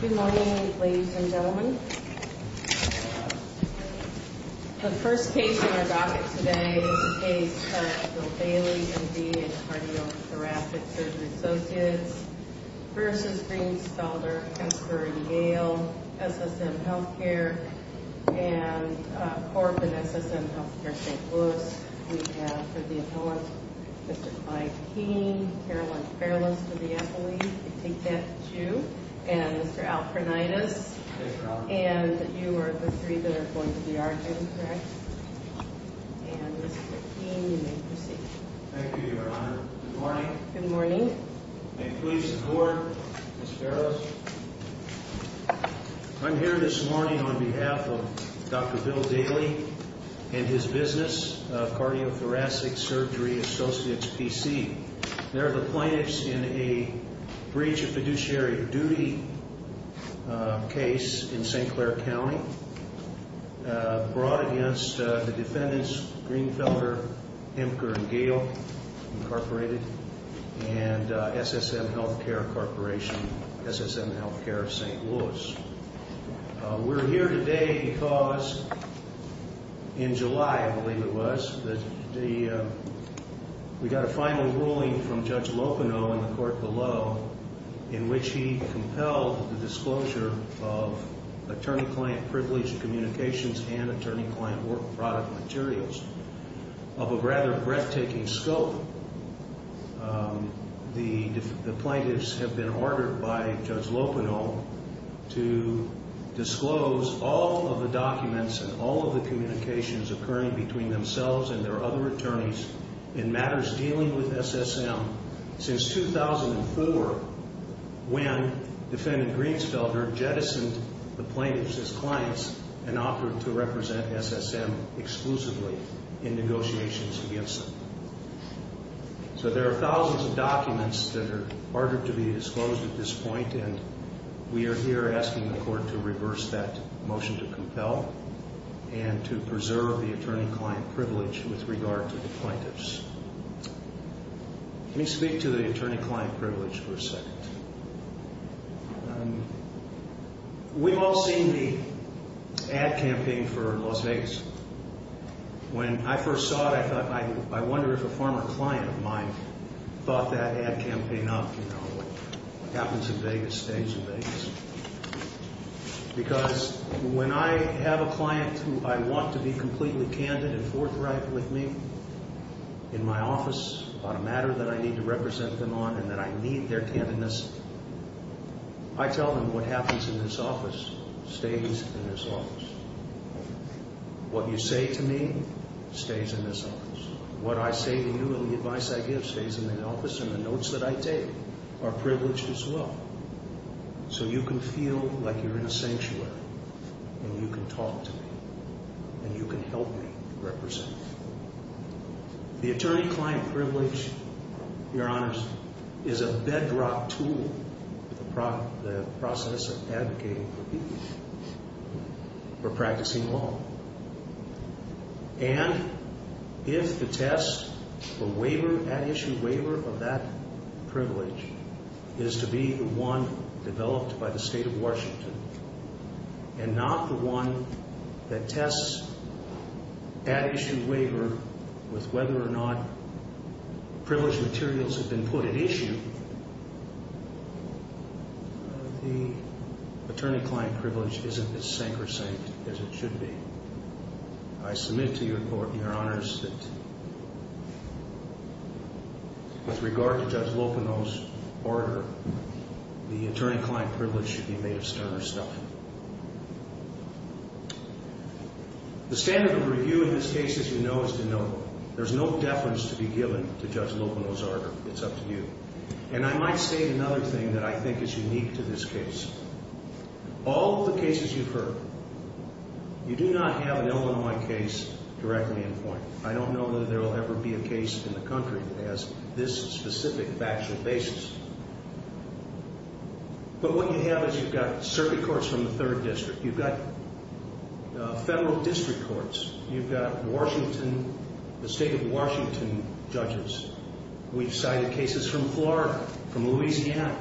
Good morning, ladies and gentlemen. The first case in our docket today is the case of Bill Bailey, MD, and Cardiothoracic Surgery Associates versus Greensfelder, Hemker & Gale, SSM Healthcare, and Corp. and SSM Healthcare St. Louis. We have for the appellant Mr. Mike Keene, Caroline Farrellis for the appellee. We take that that's you. And Mr. Alpernides. And you are the three that are going to be arguing, correct? And Mr. Keene, you may proceed. Thank you, Your Honor. Good morning. Good morning. May it please the Court, Ms. Farrellis. I'm here this morning on behalf of Dr. Bill Bailey and his business, Cardiothoracic Surgery Associates, P.C. They're the plaintiffs in a breach of fiduciary duty case in St. Clair County brought against the defendants, Greensfelder, Hemker & Gale, Incorporated, and SSM Healthcare Corporation, SSM Healthcare St. Louis. We're here today because in July, I believe it was, we got a final ruling from Judge Lopino in the court below in which he compelled the disclosure of attorney-client privileged communications and attorney-client work product materials of a rather breathtaking scope. The plaintiffs have been ordered by Judge Lopino to disclose all of the documents and all of the communications occurring between themselves and their other attorneys in matters dealing with SSM since 2004 when Defendant Greensfelder jettisoned the plaintiffs as clients and offered to represent SSM exclusively in negotiations against them. So there are thousands of documents that are ordered to be disclosed at this point and we are here asking the court to reverse that motion to compel and to preserve the attorney-client privilege with regard to the plaintiffs. Let me speak to the attorney-client privilege for a second. We've all seen the ad campaign for Las Vegas. When I first saw it, I thought, I wonder if a former client of mine thought that ad campaign up, you know, what happens in Vegas stays in Vegas. Because when I have a client who I want to be completely candid and forthright with me in my office about a matter that I need to represent them on and that I need their candidness, I tell them what happens in this office stays in this office. What you say to me stays in this office. What I say to you and the advice I give stays in that office and the notes that I take are privileged as well. So you can feel like you're in a sanctuary and you can talk to me and you can help me represent you. The attorney-client privilege, Your Honors, is a bedrock tool in the process of advocating for people who are practicing law. And if the test for waiver, ad issue waiver of that privilege is to be the one developed by the State of Washington and not the one that tests ad issue waiver with whether or not privileged materials have been put at issue, the attorney-client privilege isn't as sank or sank as it should be. I submit to you, Your Honors, that with regard to Judge Locono's order, the attorney-client privilege should be made of sterner stuff. The standard of review in this case, as you know, is to note there's no deference to be given to Judge Locono's order. It's up to you. And I might state another thing that I think is unique to this case. All the cases you've heard, you do not have an Illinois case directly in point. I don't know whether there will ever be a case in the country that has this specific factual basis. But what you have is you've got circuit courts from the 3rd District. You've got federal district courts. You've got Washington, the State of Washington judges. We've cited cases from Florida, from Louisiana,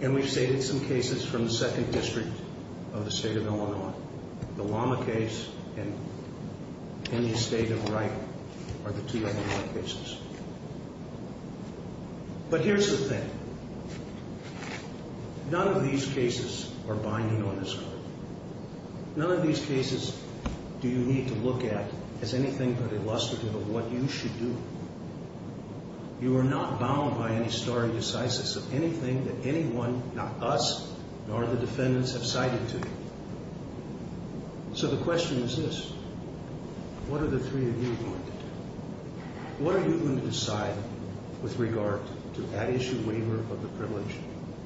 and we've stated some cases from the 2nd District of the State of Illinois. The Lama case and any state of right are the 2 Illinois cases. But here's the thing. None of these cases are binding on this court. None of these cases do you need to look at as anything but illustrative of what you should do. You are not bound by any stare decisis of anything that anyone, not us, nor the defendants have cited to you. So the question is this. What are the three of you going to do? What are you going to decide with regard to that issue waiver of the privilege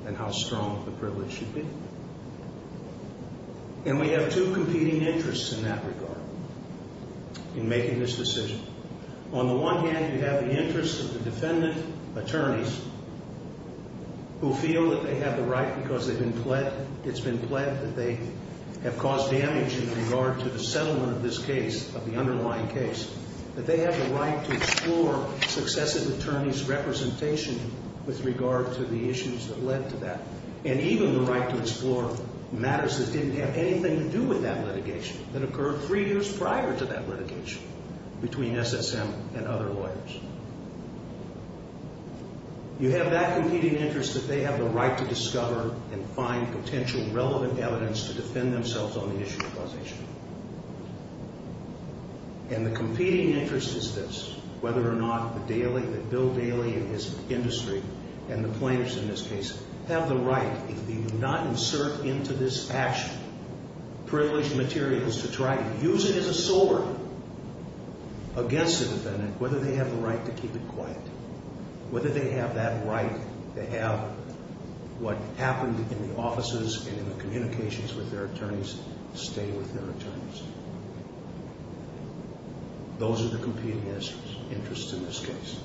and how strong the privilege should be? And we have two competing interests in that regard in making this decision. On the one hand, you have the interest of the defendant attorneys who feel that they have the right because it's been pled that they have caused damage in regard to the settlement of this case, of the underlying case, that they have the right to explore successive attorneys' representation with regard to the issues that led to that, and even the right to explore matters that didn't have anything to do with that litigation, that occurred three years prior to that litigation between SSM and other lawyers. You have that competing interest that they have the right to discover and find potential relevant evidence to defend themselves on the issue of causation. And the competing interest is this, whether or not the bill daily in this industry and the plaintiffs in this case have the right, if they do not insert into this action, privileged materials to try to use it as a sword against the defendant, whether they have the right to keep it quiet, whether they have that right to have what happened in the offices and in the communications with their attorneys stay with their attorneys. Those are the competing interests in this case.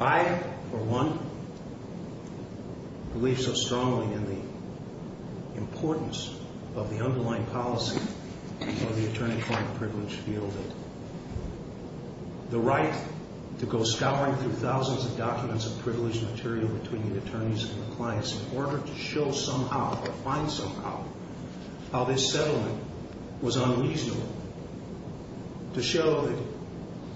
I, for one, believe so strongly in the importance of the underlying policy of the attorney-client privilege field, that the right to go scouring through thousands of documents of privileged material between the attorneys and the clients in order to show somehow or find somehow how this settlement was unreasonable, to show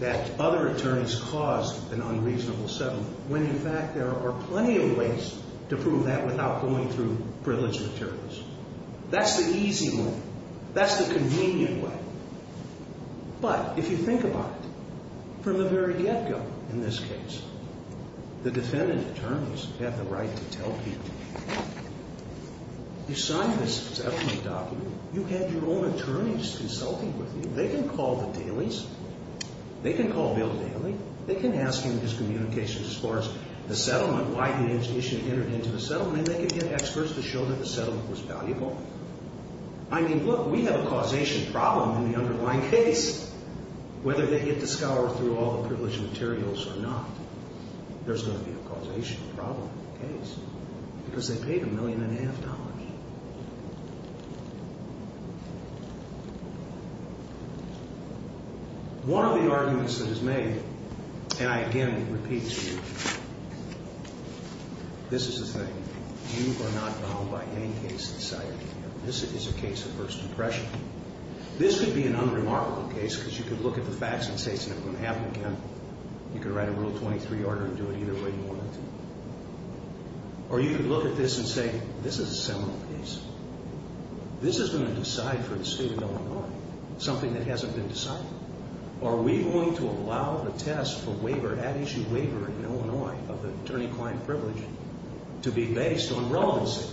that other attorneys caused an unreasonable settlement, when in fact there are plenty of ways to prove that without going through privileged materials. That's the easy way. That's the convenient way. But if you think about it, from the very get-go in this case, the defendant attorneys have the right to tell people, you signed this settlement document, you had your own attorneys consulting with you, they can call the dailies, they can call Bill Daley, they can ask him his communications as far as the settlement, why the institution entered into the settlement, and they can get experts to show that the settlement was valuable. I mean, look, we have a causation problem in the underlying case. Whether they get to scour through all the privileged materials or not, there's going to be a causation problem in the case, because they paid a million and a half dollars. One of the arguments that is made, and I again repeat to you, this is the thing, you are not bound by any case in society. This is a case of first impression. This could be an unremarkable case, because you could look at the facts and say it's never going to happen again. You could write a Rule 23 order and do it either way you wanted to. Or you could look at this and say, this is a seminal case. This is going to decide for the state of Illinois something that hasn't been decided. Are we going to allow the test for waiver, ad issue waiver in Illinois of the attorney-client privilege, to be based on relevancy?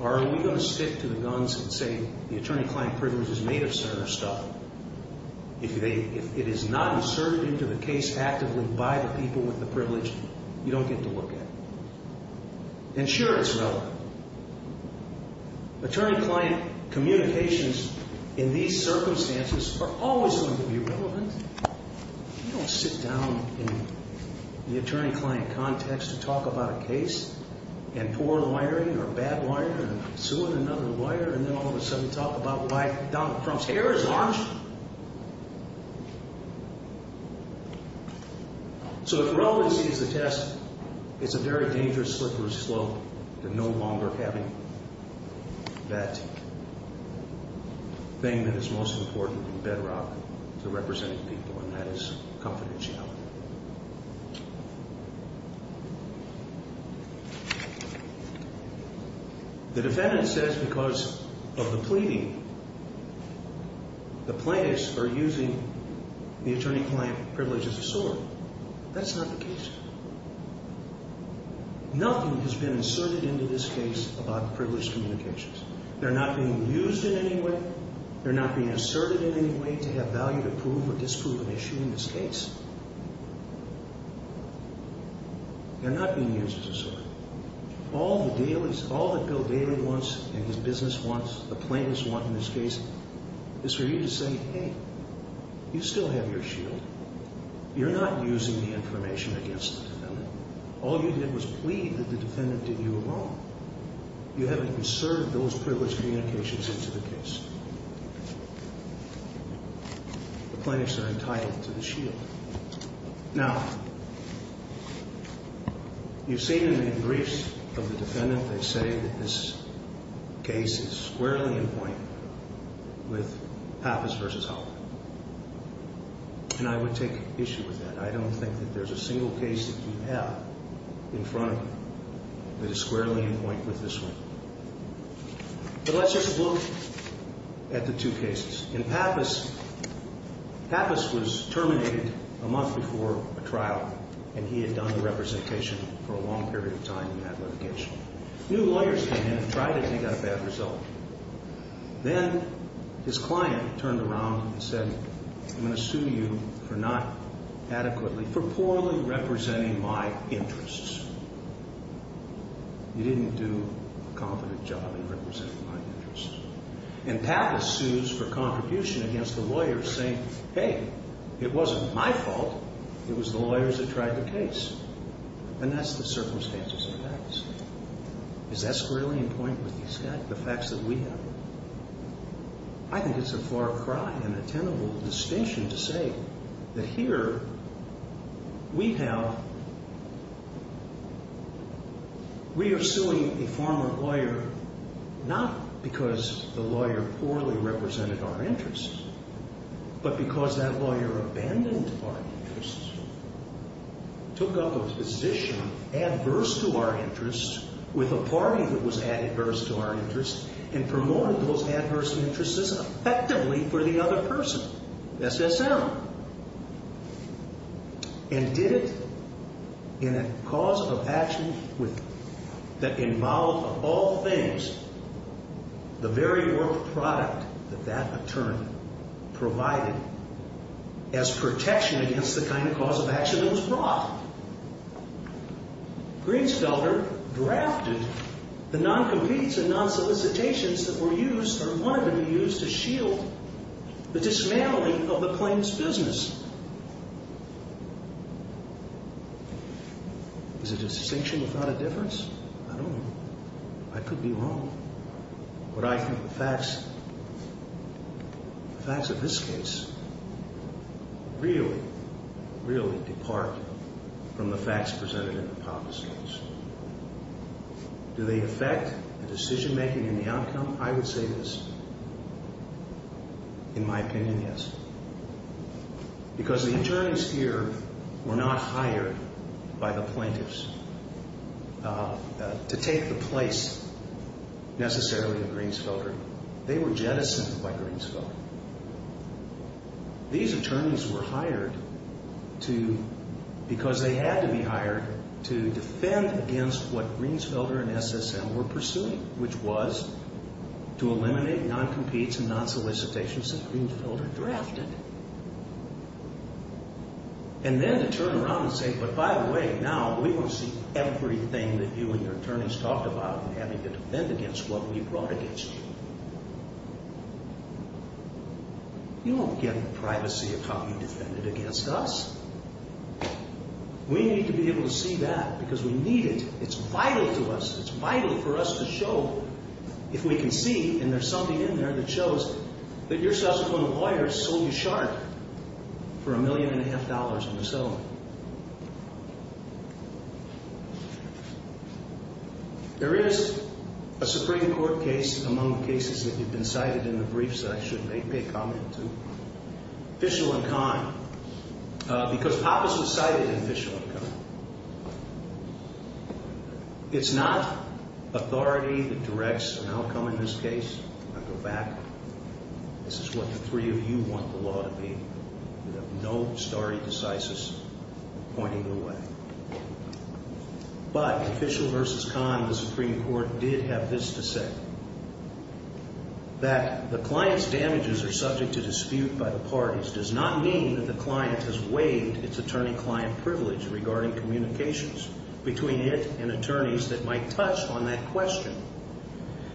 Or are we going to stick to the guns and say the attorney-client privilege is made of certain stuff? If it is not inserted into the case actively by the people with the privilege, you don't get to look at it. And sure, it's relevant. Attorney-client communications in these circumstances are always going to be relevant. You don't sit down in the attorney-client context and talk about a case, and poor wiring or bad wiring, and suing another wire, and then all of a sudden talk about why Donald Trump's hair is orange. So if relevancy is the test, it's a very dangerous slippery slope to no longer having that thing that is most important and bedrock to representing people, and that is confidentiality. The defendant says because of the pleading, the plaintiffs are using the attorney-client privilege as a sword. That's not the case. Nothing has been inserted into this case about privilege communications. They're not being used in any way. They're not being asserted in any way to have value to prove or disprove an issue in this case. They're not being used as a sword. All that Bill Daley wants, and his business wants, the plaintiffs want in this case, is for you to say, hey, you still have your shield. You're not using the information against the defendant. All you did was plead that the defendant did you wrong. You haven't conserved those privilege communications into the case. The plaintiffs are entitled to the shield. Now, you've seen in the briefs of the defendant, they say that this case is squarely in point with Pappas v. Hoffman. And I would take issue with that. I don't think that there's a single case that you have in front of you that is squarely in point with this one. But let's just look at the two cases. In Pappas, Pappas was terminated a month before a trial, and he had done the representation for a long period of time in that litigation. New lawyers came in and tried to think out a bad result. Then his client turned around and said, I'm going to sue you for not adequately, for poorly representing my interests. You didn't do a competent job in representing my interests. And Pappas sues for contribution against the lawyers saying, hey, it wasn't my fault. It was the lawyers that tried the case. And that's the circumstances in Pappas. Is that squarely in point with these guys, the facts that we have? I think it's a far cry and a tenable distinction to say that here we have, we are suing a former lawyer, not because the lawyer poorly represented our interests, but because that lawyer abandoned our interests, took up a position adverse to our interests with a party that was adverse to our interests, and promoted those adverse interests effectively for the other person, SSM. And did it in a cause of action that involved all things, the very work product that that attorney provided as protection against the kind of cause of action that was brought? Greensfelder drafted the non-competes and non-solicitations that were used, or wanted to be used, to shield the dismantling of the claims business. Is it a distinction without a difference? I don't know. I could be wrong. But I think the facts, the facts of this case, really, really depart from the facts presented in the Pappas case. Do they affect the decision making and the outcome? I would say this. In my opinion, yes. Because the attorneys here were not hired by the plaintiffs to take the place, necessarily, of Greensfelder. They were jettisoned by Greensfelder. These attorneys were hired because they had to be hired to defend against what Greensfelder and SSM were pursuing, which was to eliminate non-competes and non-solicitations that Greensfelder drafted. And then to turn around and say, but by the way, now we want to see everything that you and your attorneys talked about in having to defend against what we brought against you. You won't get the privacy of how you defended against us. We need to be able to see that because we need it. It's vital to us. It's vital for us to show. If we can see, and there's something in there that shows, that your subsequent lawyers sold you sharp for a million and a half dollars in the settlement. There is a Supreme Court case among the cases that you've been cited in the briefs that I should make a comment to, Fishel and Kahn. Because Pappas was cited in Fishel and Kahn. It's not authority that directs an outcome in this case. I go back. This is what the three of you want the law to be. You have no stare decisis pointing the way. But Fishel versus Kahn, the Supreme Court did have this to say. That the client's damages are subject to dispute by the parties does not mean that the client has waived its attorney-client privilege regarding communications between it and attorneys that might touch on that question.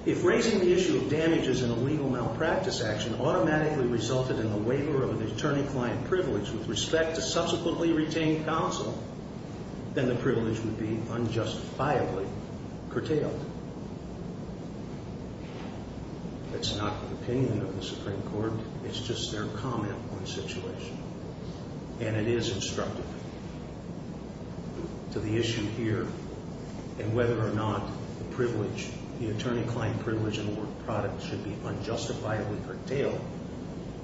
If raising the issue of damages in a legal malpractice action automatically resulted in the waiver of an attorney-client privilege with respect to subsequently retained counsel, then the privilege would be unjustifiably curtailed. That's not the opinion of the Supreme Court. It's just their comment on the situation. And it is instructive to the issue here and whether or not the attorney-client privilege and the work product should be unjustifiably curtailed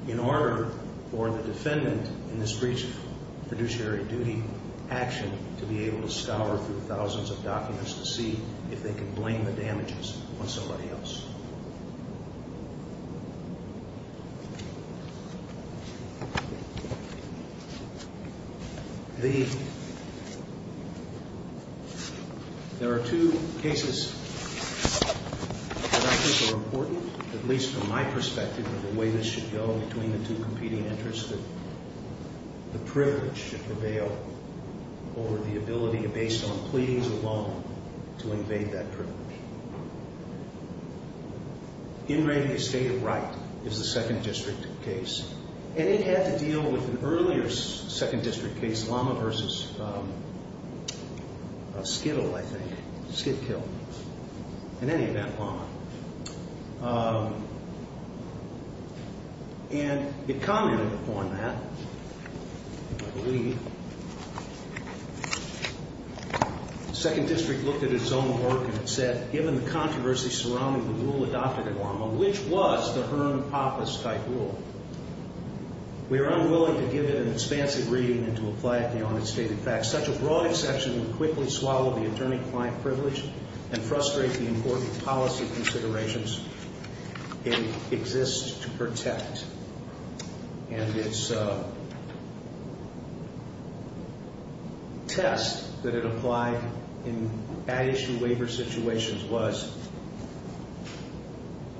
in order for the defendant in this breach of fiduciary duty action to be able to scour through thousands of documents to see if they can blame the damages on somebody else. There are two cases that I think are important, at least from my perspective, of the way this should go between the two competing interests that the privilege should prevail over the ability to, based on pleadings of law, to invade that privilege. In reigning a state of right is the Second District case. And it had to deal with an earlier Second District case, Lama versus Skittle, I think, Skidkill. In any event, Lama. And it commented upon that, I believe. The Second District looked at its own work and it said, given the controversy surrounding the rule adopted at Lama, which was the Hearn-Pappas-type rule, we are unwilling to give it an expansive reading and to apply it beyond its stated facts. Such a broad exception would quickly swallow the attorney-client privilege and frustrate the important policy considerations it exists to protect. And its test that it applied in ad issue waiver situations was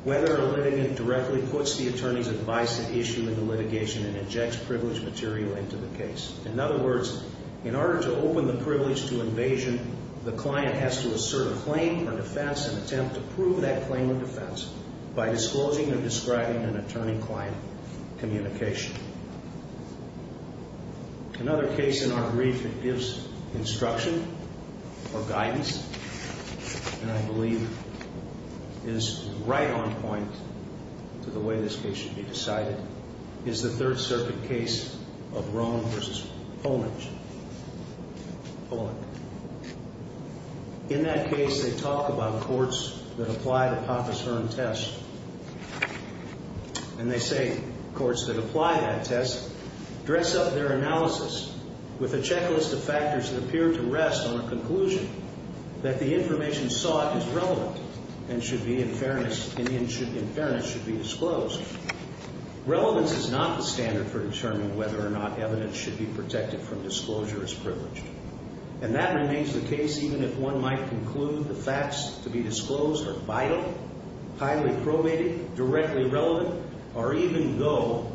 whether a litigant directly puts the attorney's advice at issue in the litigation and injects privileged material into the case. In other words, in order to open the privilege to invasion, the client has to assert a claim on defense and attempt to prove that claim of defense by disclosing or describing an attorney-client communication. Another case in our brief that gives instruction or guidance, and I believe is right on point to the way this case should be decided, is the Third Circuit case of Roan versus Poland. Poland. In that case, they talk about courts that apply the Pappas-Hearn test, and they say courts that apply that test dress up their analysis with a checklist of factors that appear to rest on a conclusion that the information sought is relevant and in fairness should be disclosed. Relevance is not the standard for determining whether or not evidence should be protected from disclosure as privileged. And that remains the case even if one might conclude the facts to be disclosed are vital, highly probated, directly relevant, or even go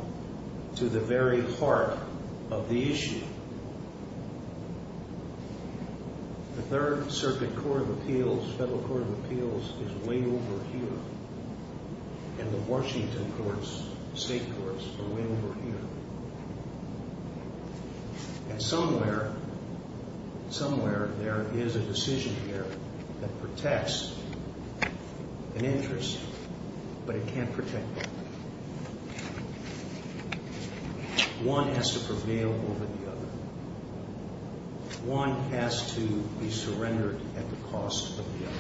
to the very heart of the issue. The Third Circuit Court of Appeals, Federal Court of Appeals, is way over here. And the Washington courts, state courts, are way over here. And somewhere, somewhere there is a decision here that protects an interest, but it can't protect them. One has to prevail over the other. One has to be surrendered at the cost of the other.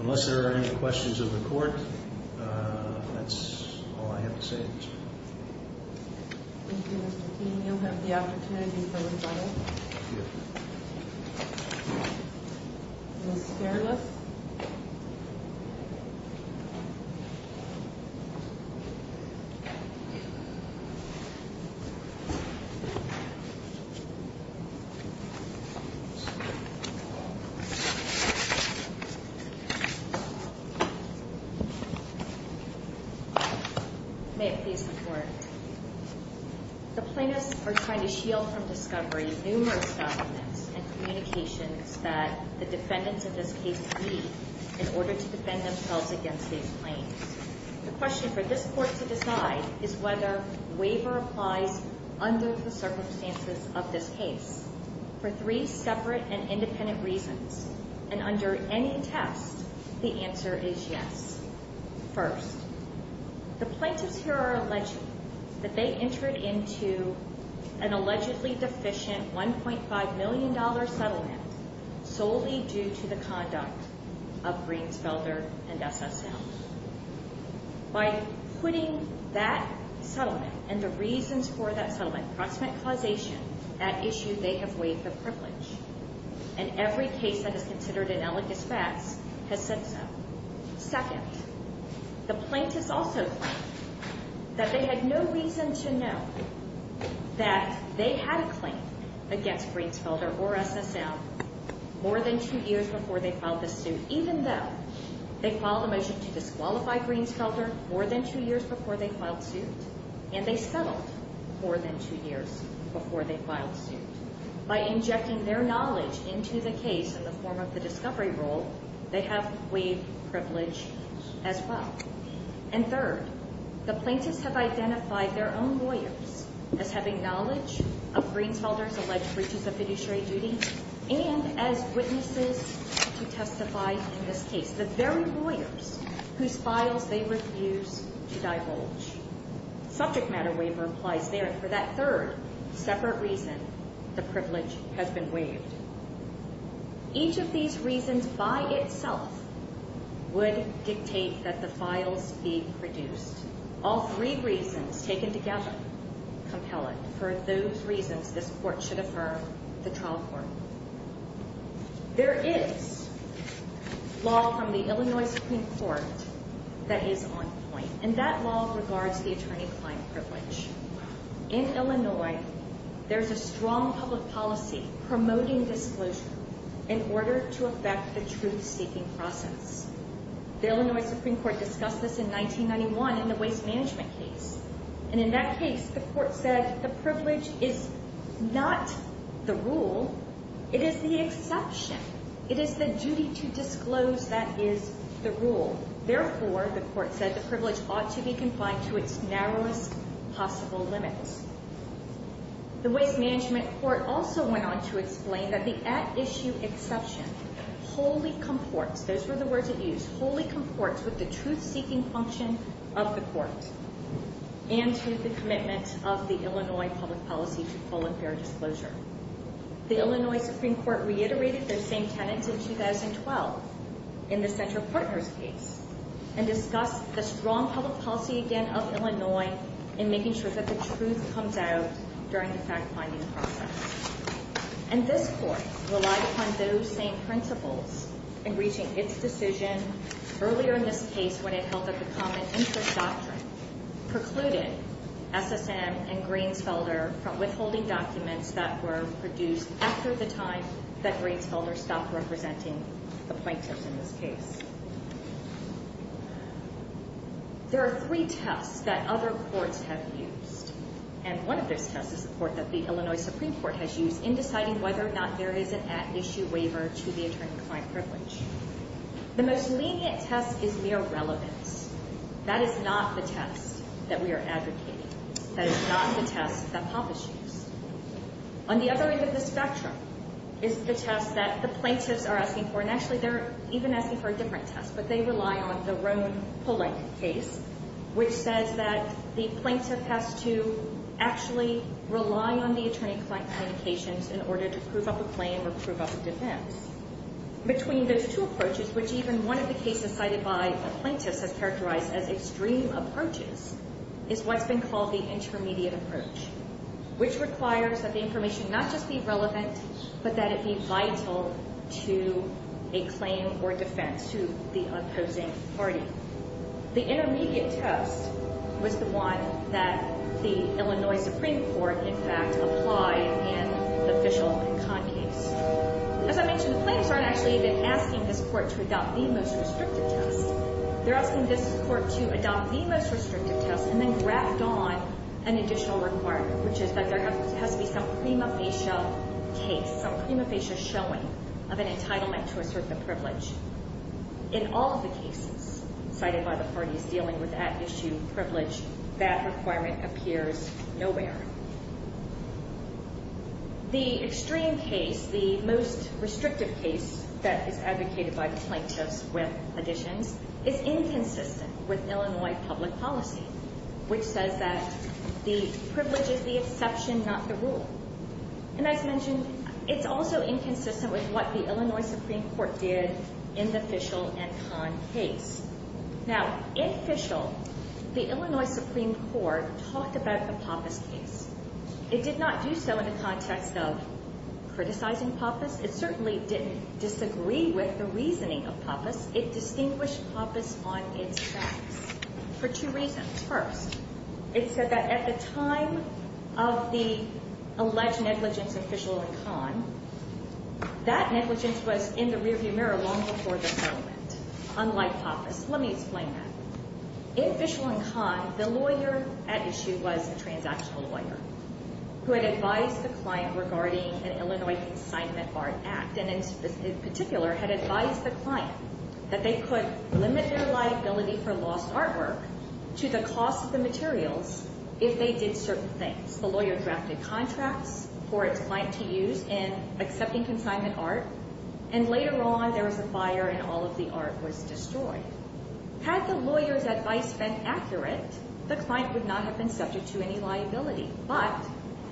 Unless there are any questions of the court, that's all I have to say. Thank you, Mr. Keene. You'll have the opportunity to go inside. Thank you. Ms. Fairless. Ms. Fairless. Thank you. May it please the Court. The plaintiffs are trying to shield from discovery numerous documents and communications that the defendants of this case need in order to defend themselves against these claims. The question for this Court to decide is whether waiver applies under the circumstances of this case for three separate and independent reasons. And under any test, the answer is yes. First, the plaintiffs here are alleging that they entered into an allegedly deficient $1.5 million settlement solely due to the conduct of Greensfelder and SSL. By putting that settlement and the reasons for that settlement, proximate causation, that issue, they have waived the privilege. And every case that is considered an elegous pass has said so. Second, the plaintiffs also claim that they had no reason to know that they had a claim against Greensfelder or SSL more than two years before they filed this suit, even though they filed a motion to disqualify Greensfelder more than two years before they filed suit, and they settled more than two years before they filed suit. By injecting their knowledge into the case in the form of the discovery rule, they have waived privilege as well. And third, the plaintiffs have identified their own lawyers as having knowledge of Greensfelder's alleged breaches of fiduciary duty and as witnesses to testify in this case, the very lawyers whose files they refuse to divulge. Subject matter waiver applies there. And for that third separate reason, the privilege has been waived. Each of these reasons by itself would dictate that the files be produced. All three reasons taken together compel it. And for those reasons, this court should affirm the trial court. There is law from the Illinois Supreme Court that is on point, and that law regards the attorney-client privilege. In Illinois, there's a strong public policy promoting disclosure in order to affect the truth-seeking process. The Illinois Supreme Court discussed this in 1991 in the waste management case, and in that case, the court said the privilege is not the rule. It is the exception. It is the duty to disclose that is the rule. Therefore, the court said, the privilege ought to be confined to its narrowest possible limits. The waste management court also went on to explain that the at-issue exception wholly comports, those were the words it used, wholly comports with the truth-seeking function of the court and to the commitment of the Illinois public policy to full and fair disclosure. The Illinois Supreme Court reiterated those same tenets in 2012 in the Center Partners case and discussed the strong public policy again of Illinois in making sure that the truth comes out during the fact-finding process. And this court relied upon those same principles in reaching its decision earlier in this case when it held that the Common Interest Doctrine precluded SSM and Greensfelder from withholding documents that were produced after the time that Greensfelder stopped representing the plaintiffs in this case. There are three tests that other courts have used, and one of those tests is the court that the Illinois Supreme Court has used in deciding whether or not there is an at-issue waiver to the attorney-client privilege. The most lenient test is mere relevance. That is not the test that we are advocating. That is not the test that PAPA chooses. On the other end of the spectrum is the test that the plaintiffs are asking for, and actually they're even asking for a different test, but they rely on the Roan-Polank case, which says that the plaintiff has to actually rely on the attorney-client communications in order to prove up a claim or prove up a defense. Between those two approaches, which even one of the cases cited by the plaintiffs has characterized as extreme approaches, is what's been called the intermediate approach, which requires that the information not just be relevant, but that it be vital to a claim or defense to the opposing party. The intermediate test was the one that the Illinois Supreme Court, in fact, applied in the Fishel and Kahn case. As I mentioned, the plaintiffs aren't actually even asking this court to adopt the most restrictive test. They're asking this court to adopt the most restrictive test and then graft on an additional requirement, which is that there has to be some prima facie case, some prima facie showing of an entitlement to assert the privilege. In all of the cases cited by the parties dealing with that issue, privilege, that requirement appears nowhere. The extreme case, the most restrictive case that is advocated by the plaintiffs with additions, is inconsistent with Illinois public policy, which says that the privilege is the exception, not the rule. And as mentioned, it's also inconsistent with what the Illinois Supreme Court did in the Fishel and Kahn case. Now, in Fishel, the Illinois Supreme Court talked about the Pappas case. It did not do so in the context of criticizing Pappas. It certainly didn't disagree with the reasoning of Pappas. It distinguished Pappas on its facts for two reasons. First, it said that at the time of the alleged negligence of Fishel and Kahn, that negligence was in the rearview mirror long before the settlement, unlike Pappas. Let me explain that. In Fishel and Kahn, the lawyer at issue was a transactional lawyer who had advised the client regarding an Illinois consignment art act, and in particular had advised the client that they could limit their liability for lost artwork to the cost of the materials if they did certain things. The lawyer drafted contracts for its client to use in accepting consignment art, and later on there was a fire and all of the art was destroyed. Had the lawyer's advice been accurate, the client would not have been subject to any liability. But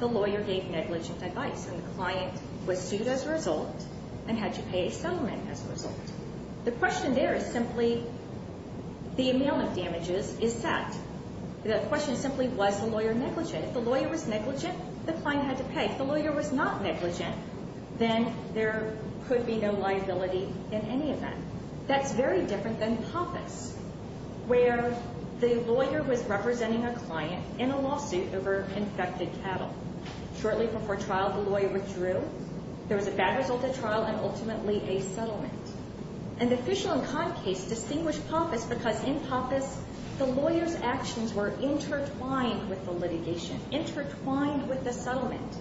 the lawyer gave negligent advice, and the client was sued as a result and had to pay a settlement as a result. The question there is simply the amount of damages is set. The question simply was the lawyer negligent. If the lawyer was negligent, the client had to pay. If the lawyer was not negligent, then there could be no liability in any event. That's very different than Pappas, where the lawyer was representing a client in a lawsuit over infected cattle. Shortly before trial, the lawyer withdrew. There was a bad result at trial and ultimately a settlement. And the Fishel and Kahn case distinguished Pappas because in Pappas, the lawyer's actions were intertwined with the litigation, intertwined with the settlement.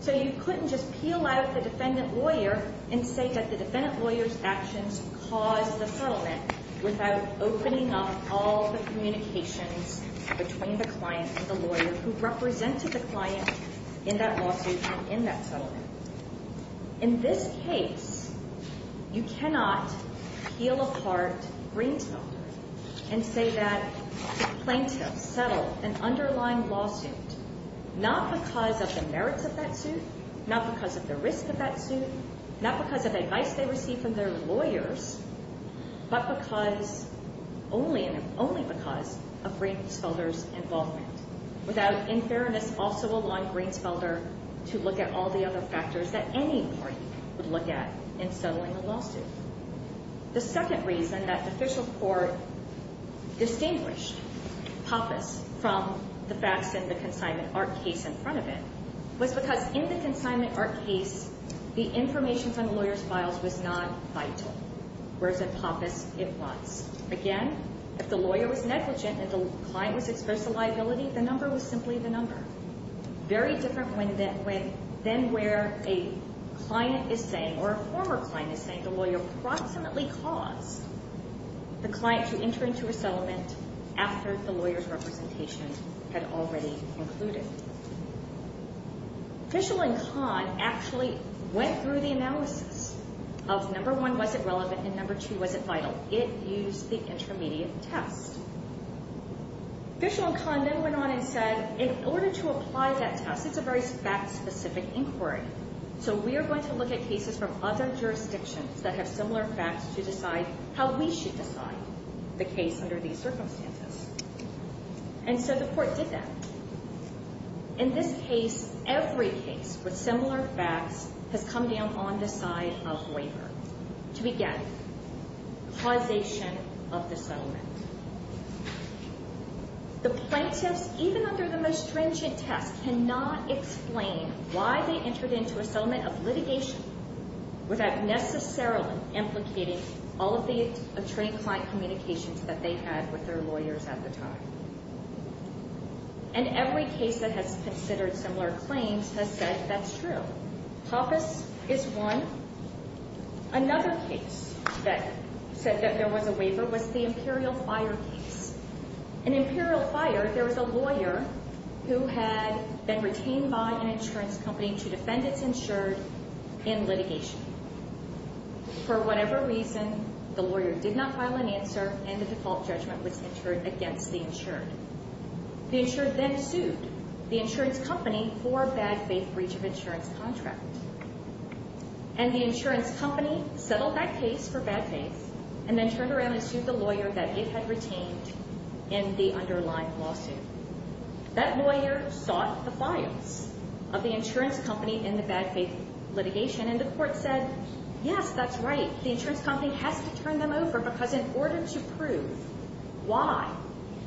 So you couldn't just peel out the defendant lawyer and say that the defendant lawyer's actions caused the settlement without opening up all the communications between the client and the lawyer who represented the client in that lawsuit and in that settlement. In this case, you cannot peel apart Greensfelder and say that the plaintiffs settled an underlying lawsuit not because of the merits of that suit, not because of the risk of that suit, not because of advice they received from their lawyers, but because only because of Greensfelder's involvement. Without, in fairness, also allowing Greensfelder to look at all the other factors that any party would look at in settling a lawsuit. The second reason that the Fishel Court distinguished Pappas from the facts in the consignment art case in front of it was because in the consignment art case, the information from the lawyer's files was not vital, whereas in Pappas, it was. Again, if the lawyer was negligent, if the client was exposed to liability, the number was simply the number. Very different than where a client is saying, or a former client is saying, the lawyer approximately caused the client to enter into a settlement after the lawyer's representation had already concluded. Fishel and Kahn actually went through the analysis of, number one, was it relevant, and number two, was it vital. It used the intermediate test. Fishel and Kahn then went on and said, in order to apply that test, it's a very fact-specific inquiry, so we are going to look at cases from other jurisdictions that have similar facts to decide how we should decide the case under these circumstances. And so the court did that. In this case, every case with similar facts has come down on the side of waiver. To begin, causation of the settlement. The plaintiffs, even under the most stringent test, cannot explain why they entered into a settlement of litigation without necessarily implicating all of the attorney-client communications that they had with their lawyers at the time. And every case that has considered similar claims has said that's true. Pappas is one. Another case that said that there was a waiver was the Imperial Fire case. In Imperial Fire, there was a lawyer who had been retained by an insurance company to defend its insured in litigation. For whatever reason, the lawyer did not file an answer, and the default judgment was insured against the insured. The insured then sued the insurance company for a bad faith breach of insurance contract. And the insurance company settled that case for bad faith and then turned around and sued the lawyer that it had retained in the underlying lawsuit. That lawyer sought the files of the insurance company in the bad faith litigation, and the court said, yes, that's right. The insurance company has to turn them over because in order to prove why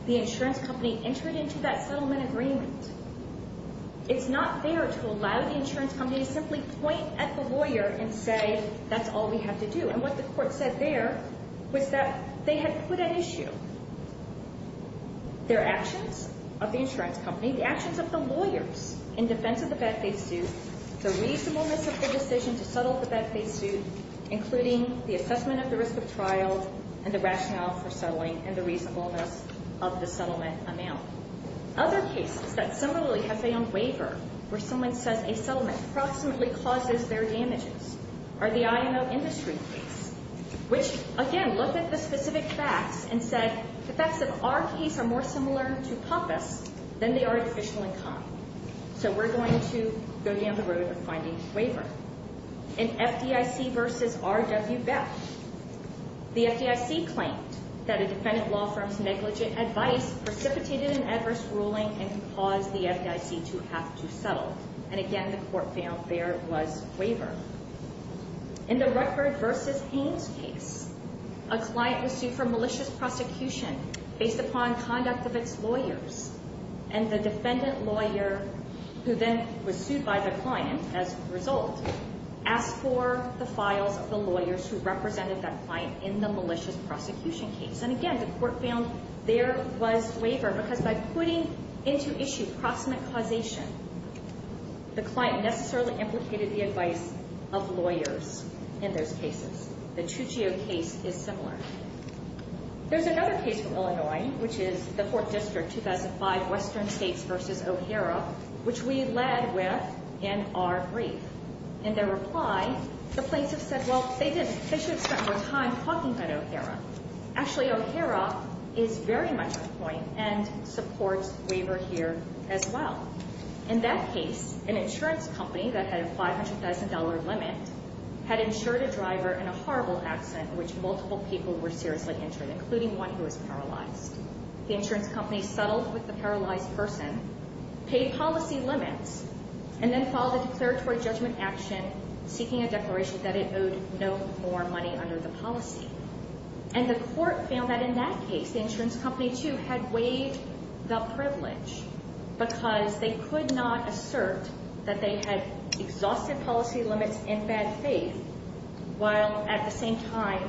the insurance company entered into that settlement agreement, it's not fair to allow the insurance company to simply point at the lawyer and say, that's all we have to do. And what the court said there was that they had put at issue their actions of the insurance company, the actions of the lawyers in defense of the bad faith suit, the reasonableness of the decision to settle the bad faith suit, including the assessment of the risk of trial and the rationale for settling and the reasonableness of the settlement amount. Other cases that similarly have found waiver, where someone says a settlement approximately causes their damages, are the IMO industry case, which, again, looked at the specific facts and said, the facts of our case are more similar to POPIS than the artificial income. So we're going to go down the road of finding waiver. In FDIC v. R. W. Beck, the FDIC claimed that a defendant law firm's negligent advice precipitated an adverse ruling and caused the FDIC to have to settle. And again, the court found there was waiver. In the Rutberg v. Haynes case, a client was sued for malicious prosecution based upon conduct of its lawyers. And the defendant lawyer, who then was sued by the client, as a result, asked for the files of the lawyers who represented that client in the malicious prosecution case. And again, the court found there was waiver, because by putting into issue approximate causation, the client necessarily implicated the advice of lawyers in those cases. The Tuccio case is similar. There's another case from Illinois, which is the Fourth District, 2005 Western States v. O'Hara, which we led with in our brief. In their reply, the plaintiffs said, well, they should have spent more time talking about O'Hara. Actually, O'Hara is very much on point and supports waiver here as well. In that case, an insurance company that had a $500,000 limit had insured a driver in a horrible accident in which multiple people were seriously injured, including one who was paralyzed. The insurance company settled with the paralyzed person, paid policy limits, and then followed a declaratory judgment action seeking a declaration that it owed no more money under the policy. And the court found that in that case, the insurance company, too, had weighed the privilege because they could not assert that they had exhausted policy limits in bad faith while at the same time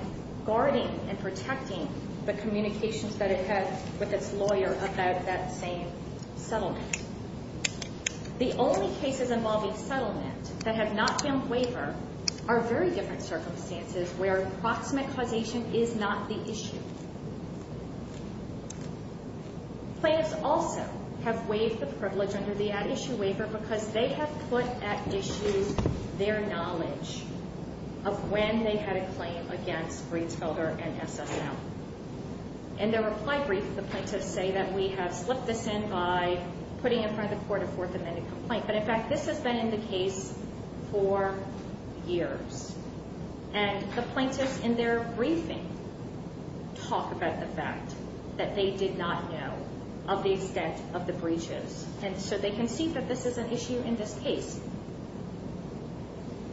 guarding and protecting the communications that it had with its lawyer about that same settlement. The only cases involving settlement that have not been waivered are very different circumstances where approximate causation is not the issue. Plaintiffs also have waived the privilege under the at-issue waiver because they have put at issue their knowledge of when they had a claim against Rietvelder and SSL. In their reply brief, the plaintiffs say that we have slipped this in by putting it in front of the court a fourth amended complaint. But in fact, this has been in the case for years. And the plaintiffs in their briefing talk about the fact that they did not know of the extent of the breaches. And so they can see that this is an issue in this case.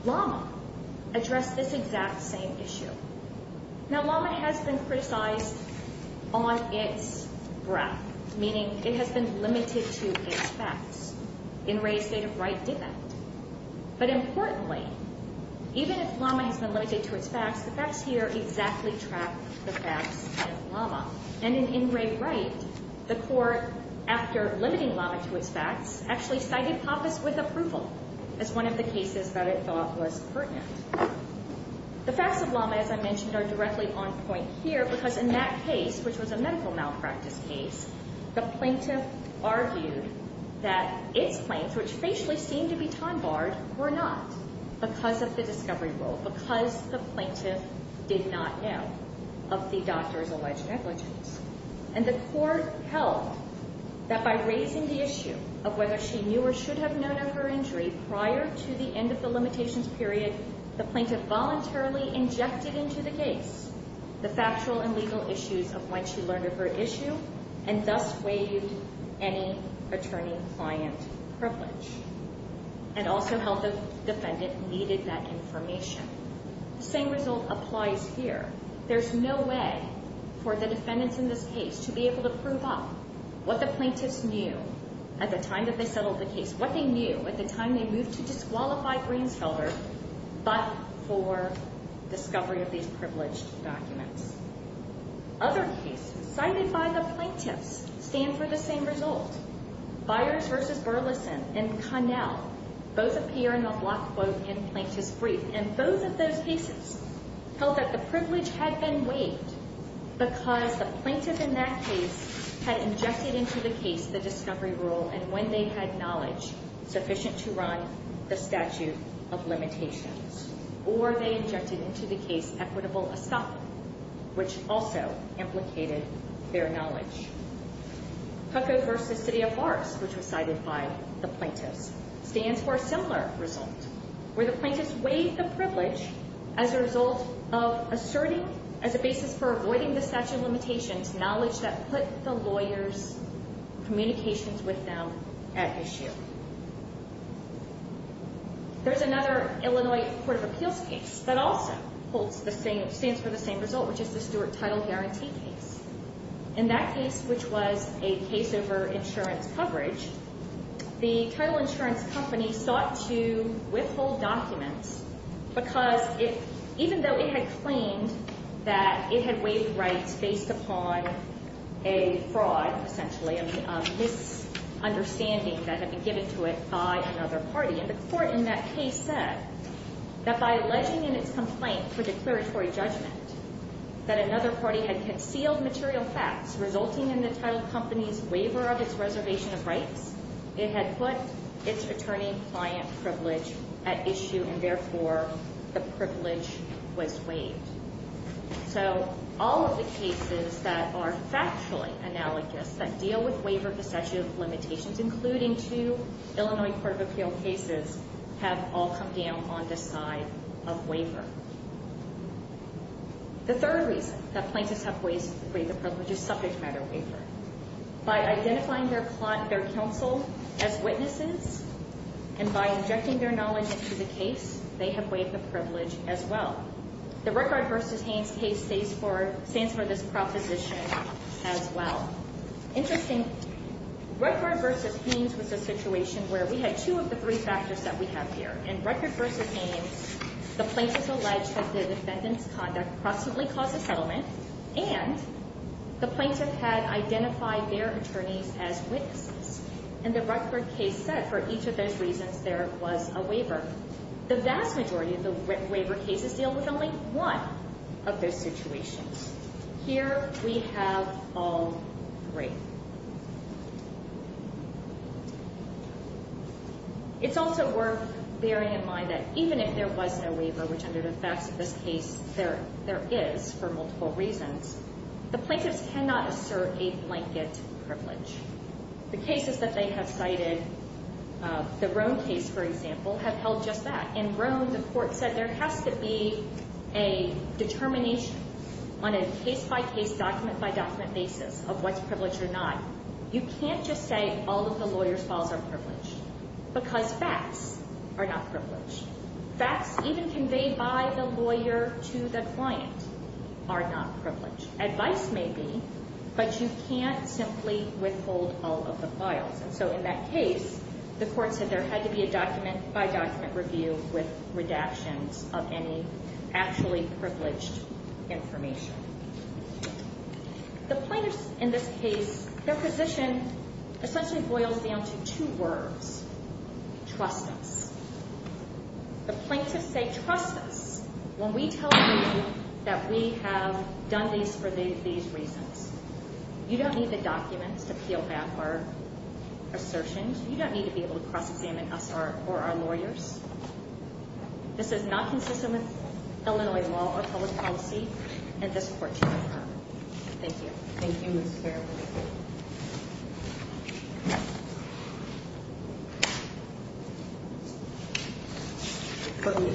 Lama addressed this exact same issue. Now, Lama has been criticized on its breath, meaning it has been limited to its facts. In re's state of right did that. But importantly, even if Lama has been limited to its facts, the facts here exactly track the facts of Lama. And in In re's right, the court, after limiting Lama to its facts, actually cited Pappas with approval as one of the cases that it thought was pertinent. The facts of Lama, as I mentioned, are directly on point here because in that case, which was a medical malpractice case, the plaintiff argued that its claims, which facially seemed to be time-barred, were not because of the discovery rule, because the plaintiff did not know of the doctor's alleged negligence. And the court held that by raising the issue of whether she knew or should have known of her injury prior to the end of the limitations period, the plaintiff voluntarily injected into the case the factual and legal issues of when she learned of her issue and thus waived any attorney-client privilege and also held the defendant needed that information. The same result applies here. There's no way for the defendants in this case to be able to prove up what the plaintiffs knew at the time that they settled the case, what they knew at the time they moved to disqualify Greensfelder, but for discovery of these privileged documents. Other cases cited by the plaintiffs stand for the same result. Byers v. Burleson and Connell both appear in the block quote in Plaintiff's Brief. And both of those cases held that the privilege had been waived because the plaintiff in that case had injected into the case the discovery rule and when they had knowledge sufficient to run the statute of limitations, or they injected into the case equitable estoppel, which also implicated their knowledge. Cuckoo v. City of Morris, which was cited by the plaintiffs, stands for a similar result where the plaintiffs waived the privilege as a result of asserting, as a basis for avoiding the statute of limitations, knowledge that put the lawyers' communications with them at issue. There's another Illinois Court of Appeals case that also holds the same, stands for the same result, which is the Stewart Title Guarantee case. In that case, which was a case over insurance coverage, the title insurance company sought to withhold documents because even though it had claimed that it had waived rights based upon a fraud, essentially, a misunderstanding that had been given to it by another party. And the court in that case said that by alleging in its complaint for declaratory judgment that another party had concealed material facts resulting in the title company's waiver of its reservation of rights, it had put its attorney-client privilege at issue, and therefore, the privilege was waived. So all of the cases that are factually analogous, that deal with waiver of the statute of limitations, including two Illinois Court of Appeals cases, have all come down on this side of waiver. The third reason that plaintiffs have waived the privilege is subject matter waiver. By identifying their counsel as witnesses and by injecting their knowledge into the case, they have waived the privilege as well. The Rutgerd v. Haynes case stands for this proposition as well. Interesting, Rutgerd v. Haynes was a situation where we had two of the three factors that we have here. In Rutgerd v. Haynes, the plaintiff alleged that the defendant's conduct possibly caused a settlement, and the plaintiff had identified their attorneys as witnesses. In the Rutgerd case set, for each of those reasons, there was a waiver. The vast majority of the waiver cases deal with only one of those situations. Here we have all three. It's also worth bearing in mind that even if there was no waiver, which under the facts of this case there is for multiple reasons, the plaintiffs cannot assert a blanket privilege. The cases that they have cited, the Roan case, for example, have held just that. In Roan, the court said there has to be a determination on a case-by-case, document-by-document basis of what's privileged or not. You can't just say all of the lawyer's files are privileged because facts are not privileged. Facts even conveyed by the lawyer to the client are not privileged. Advice may be, but you can't simply withhold all of the files. In that case, the court said there had to be a document-by-document review with redactions of any actually privileged information. The plaintiffs in this case, their position essentially boils down to two words. Trust us. The plaintiffs say trust us when we tell you that we have done these for these reasons. You don't need the documents to peel back our assertions. You don't need to be able to cross-examine us or our lawyers. This is not consistent with Illinois law or public policy, and this court cannot comment. Thank you. Thank you, Ms. Farrell.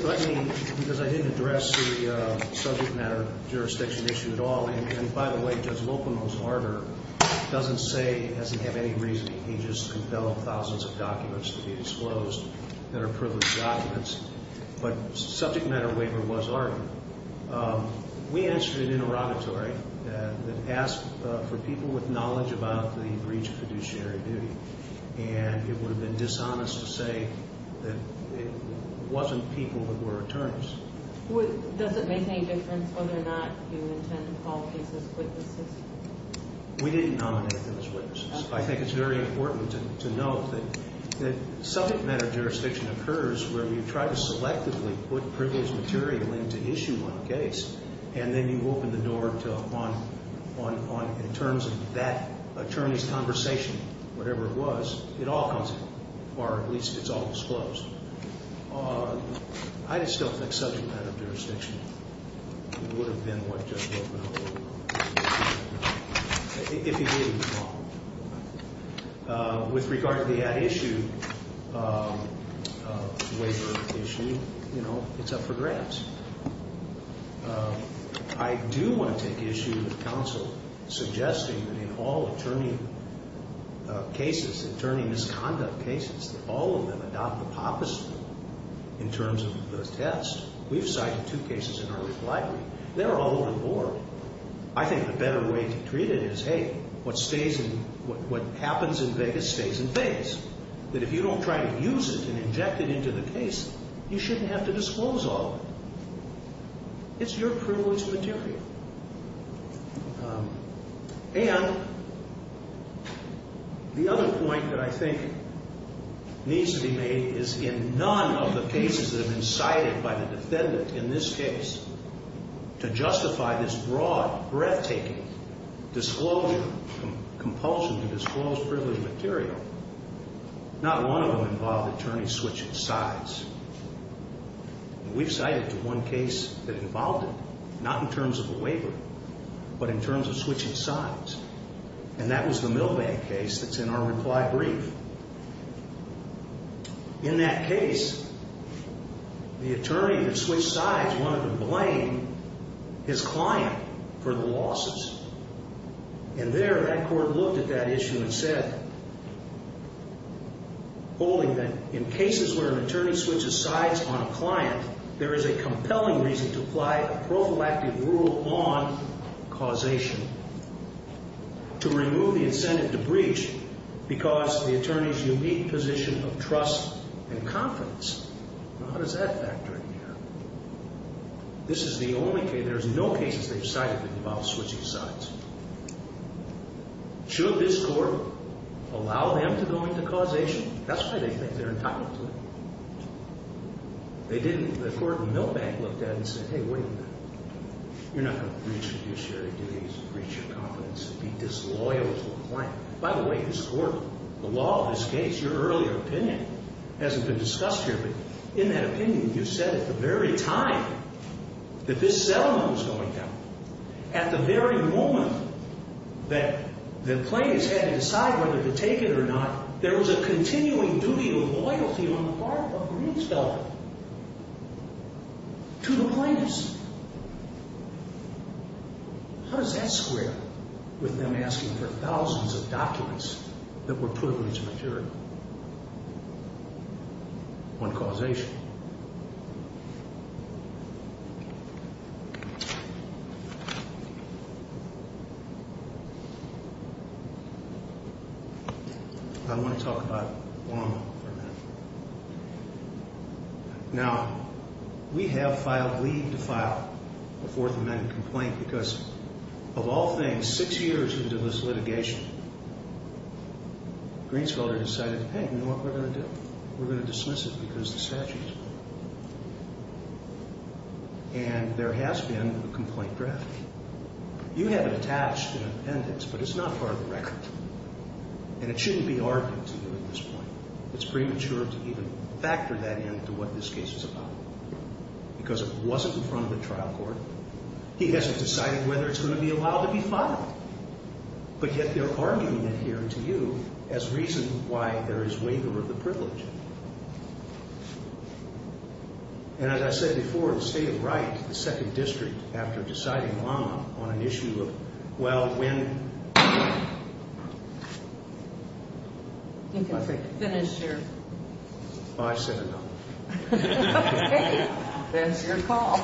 Let me, because I didn't address the subject matter jurisdiction issue at all, and by the way, Judge Lopono's order doesn't say it doesn't have any reasoning. He just entailed thousands of documents to be disclosed that are privileged documents, but subject matter waiver was argued. We answered an interrogatory that asked for people with knowledge about the breach of fiduciary duty, and it would have been dishonest to say that it wasn't people who were attorneys. Does it make any difference whether or not you intend to call cases witnesses? We didn't nominate them as witnesses. I think it's very important to note that subject matter jurisdiction occurs where you try to selectively put privileged material into issue on a case, and then you open the door to, in terms of that attorney's conversation, whatever it was, it all comes, or at least it's all disclosed. I just don't think subject matter jurisdiction would have been what Judge Lopono would have been if he didn't call. With regard to the at-issue waiver issue, you know, it's up for grabs. I do want to take issue with counsel suggesting that in all attorney cases, attorney misconduct cases, that all of them adopt the POPIS rule in terms of the test. We've cited two cases in our reply brief. They're all over the board. I think the better way to treat it is, hey, what happens in Vegas stays in Vegas, that if you don't try to use it and inject it into the case, you shouldn't have to disclose all of it. It's your privileged material. And the other point that I think needs to be made is in none of the cases that have been cited by the defendant in this case to justify this broad, breathtaking disclosure, compulsion to disclose privileged material, not one of them involved attorneys switching sides. We've cited one case that involved it, not in terms of a waiver, but in terms of switching sides, and that was the Milbank case that's in our reply brief. In that case, the attorney that switched sides wanted to blame his client for the losses. And there that court looked at that issue and said, holding that in cases where an attorney switches sides on a client, there is a compelling reason to apply a prophylactic rule on causation to remove the incentive to breach because the attorney's unique position of trust and confidence. Now, how does that factor in here? This is the only case, there's no cases they've cited that involve switching sides. Should this court allow them to go into causation? That's why they think they're entitled to it. They didn't, the court in Milbank looked at it and said, hey, wait a minute. You're not going to breach fiduciary duties and breach your confidence and be disloyal to the client. By the way, this court, the law of this case, your earlier opinion hasn't been discussed here, but in that opinion, you said at the very time that this settlement was going down, at the very moment that the plaintiffs had to decide whether to take it or not, there was a continuing duty of loyalty on the part of Greenspelt to the plaintiffs. How does that square with them asking for thousands of documents that were privileged material on causation? I want to talk about Obama for a minute. Now, we have filed leave to file a Fourth Amendment complaint because of all things, six years into this litigation, Greenspelter decided, hey, you know what we're going to do? We're going to dismiss it because the statute is broken. And there has been a complaint drafted. You have it attached in an appendix, but it's not part of the record. And it shouldn't be argued to you at this point. It's premature to even factor that in to what this case is about because it wasn't in front of the trial court. He hasn't decided whether it's going to be allowed to be filed. But yet they're arguing it here to you as reason why there is waiver of the privilege. And as I said before, the State of Right, the Second District, after deciding long on an issue of, well, when. You can finish your. I've said enough. There's your call.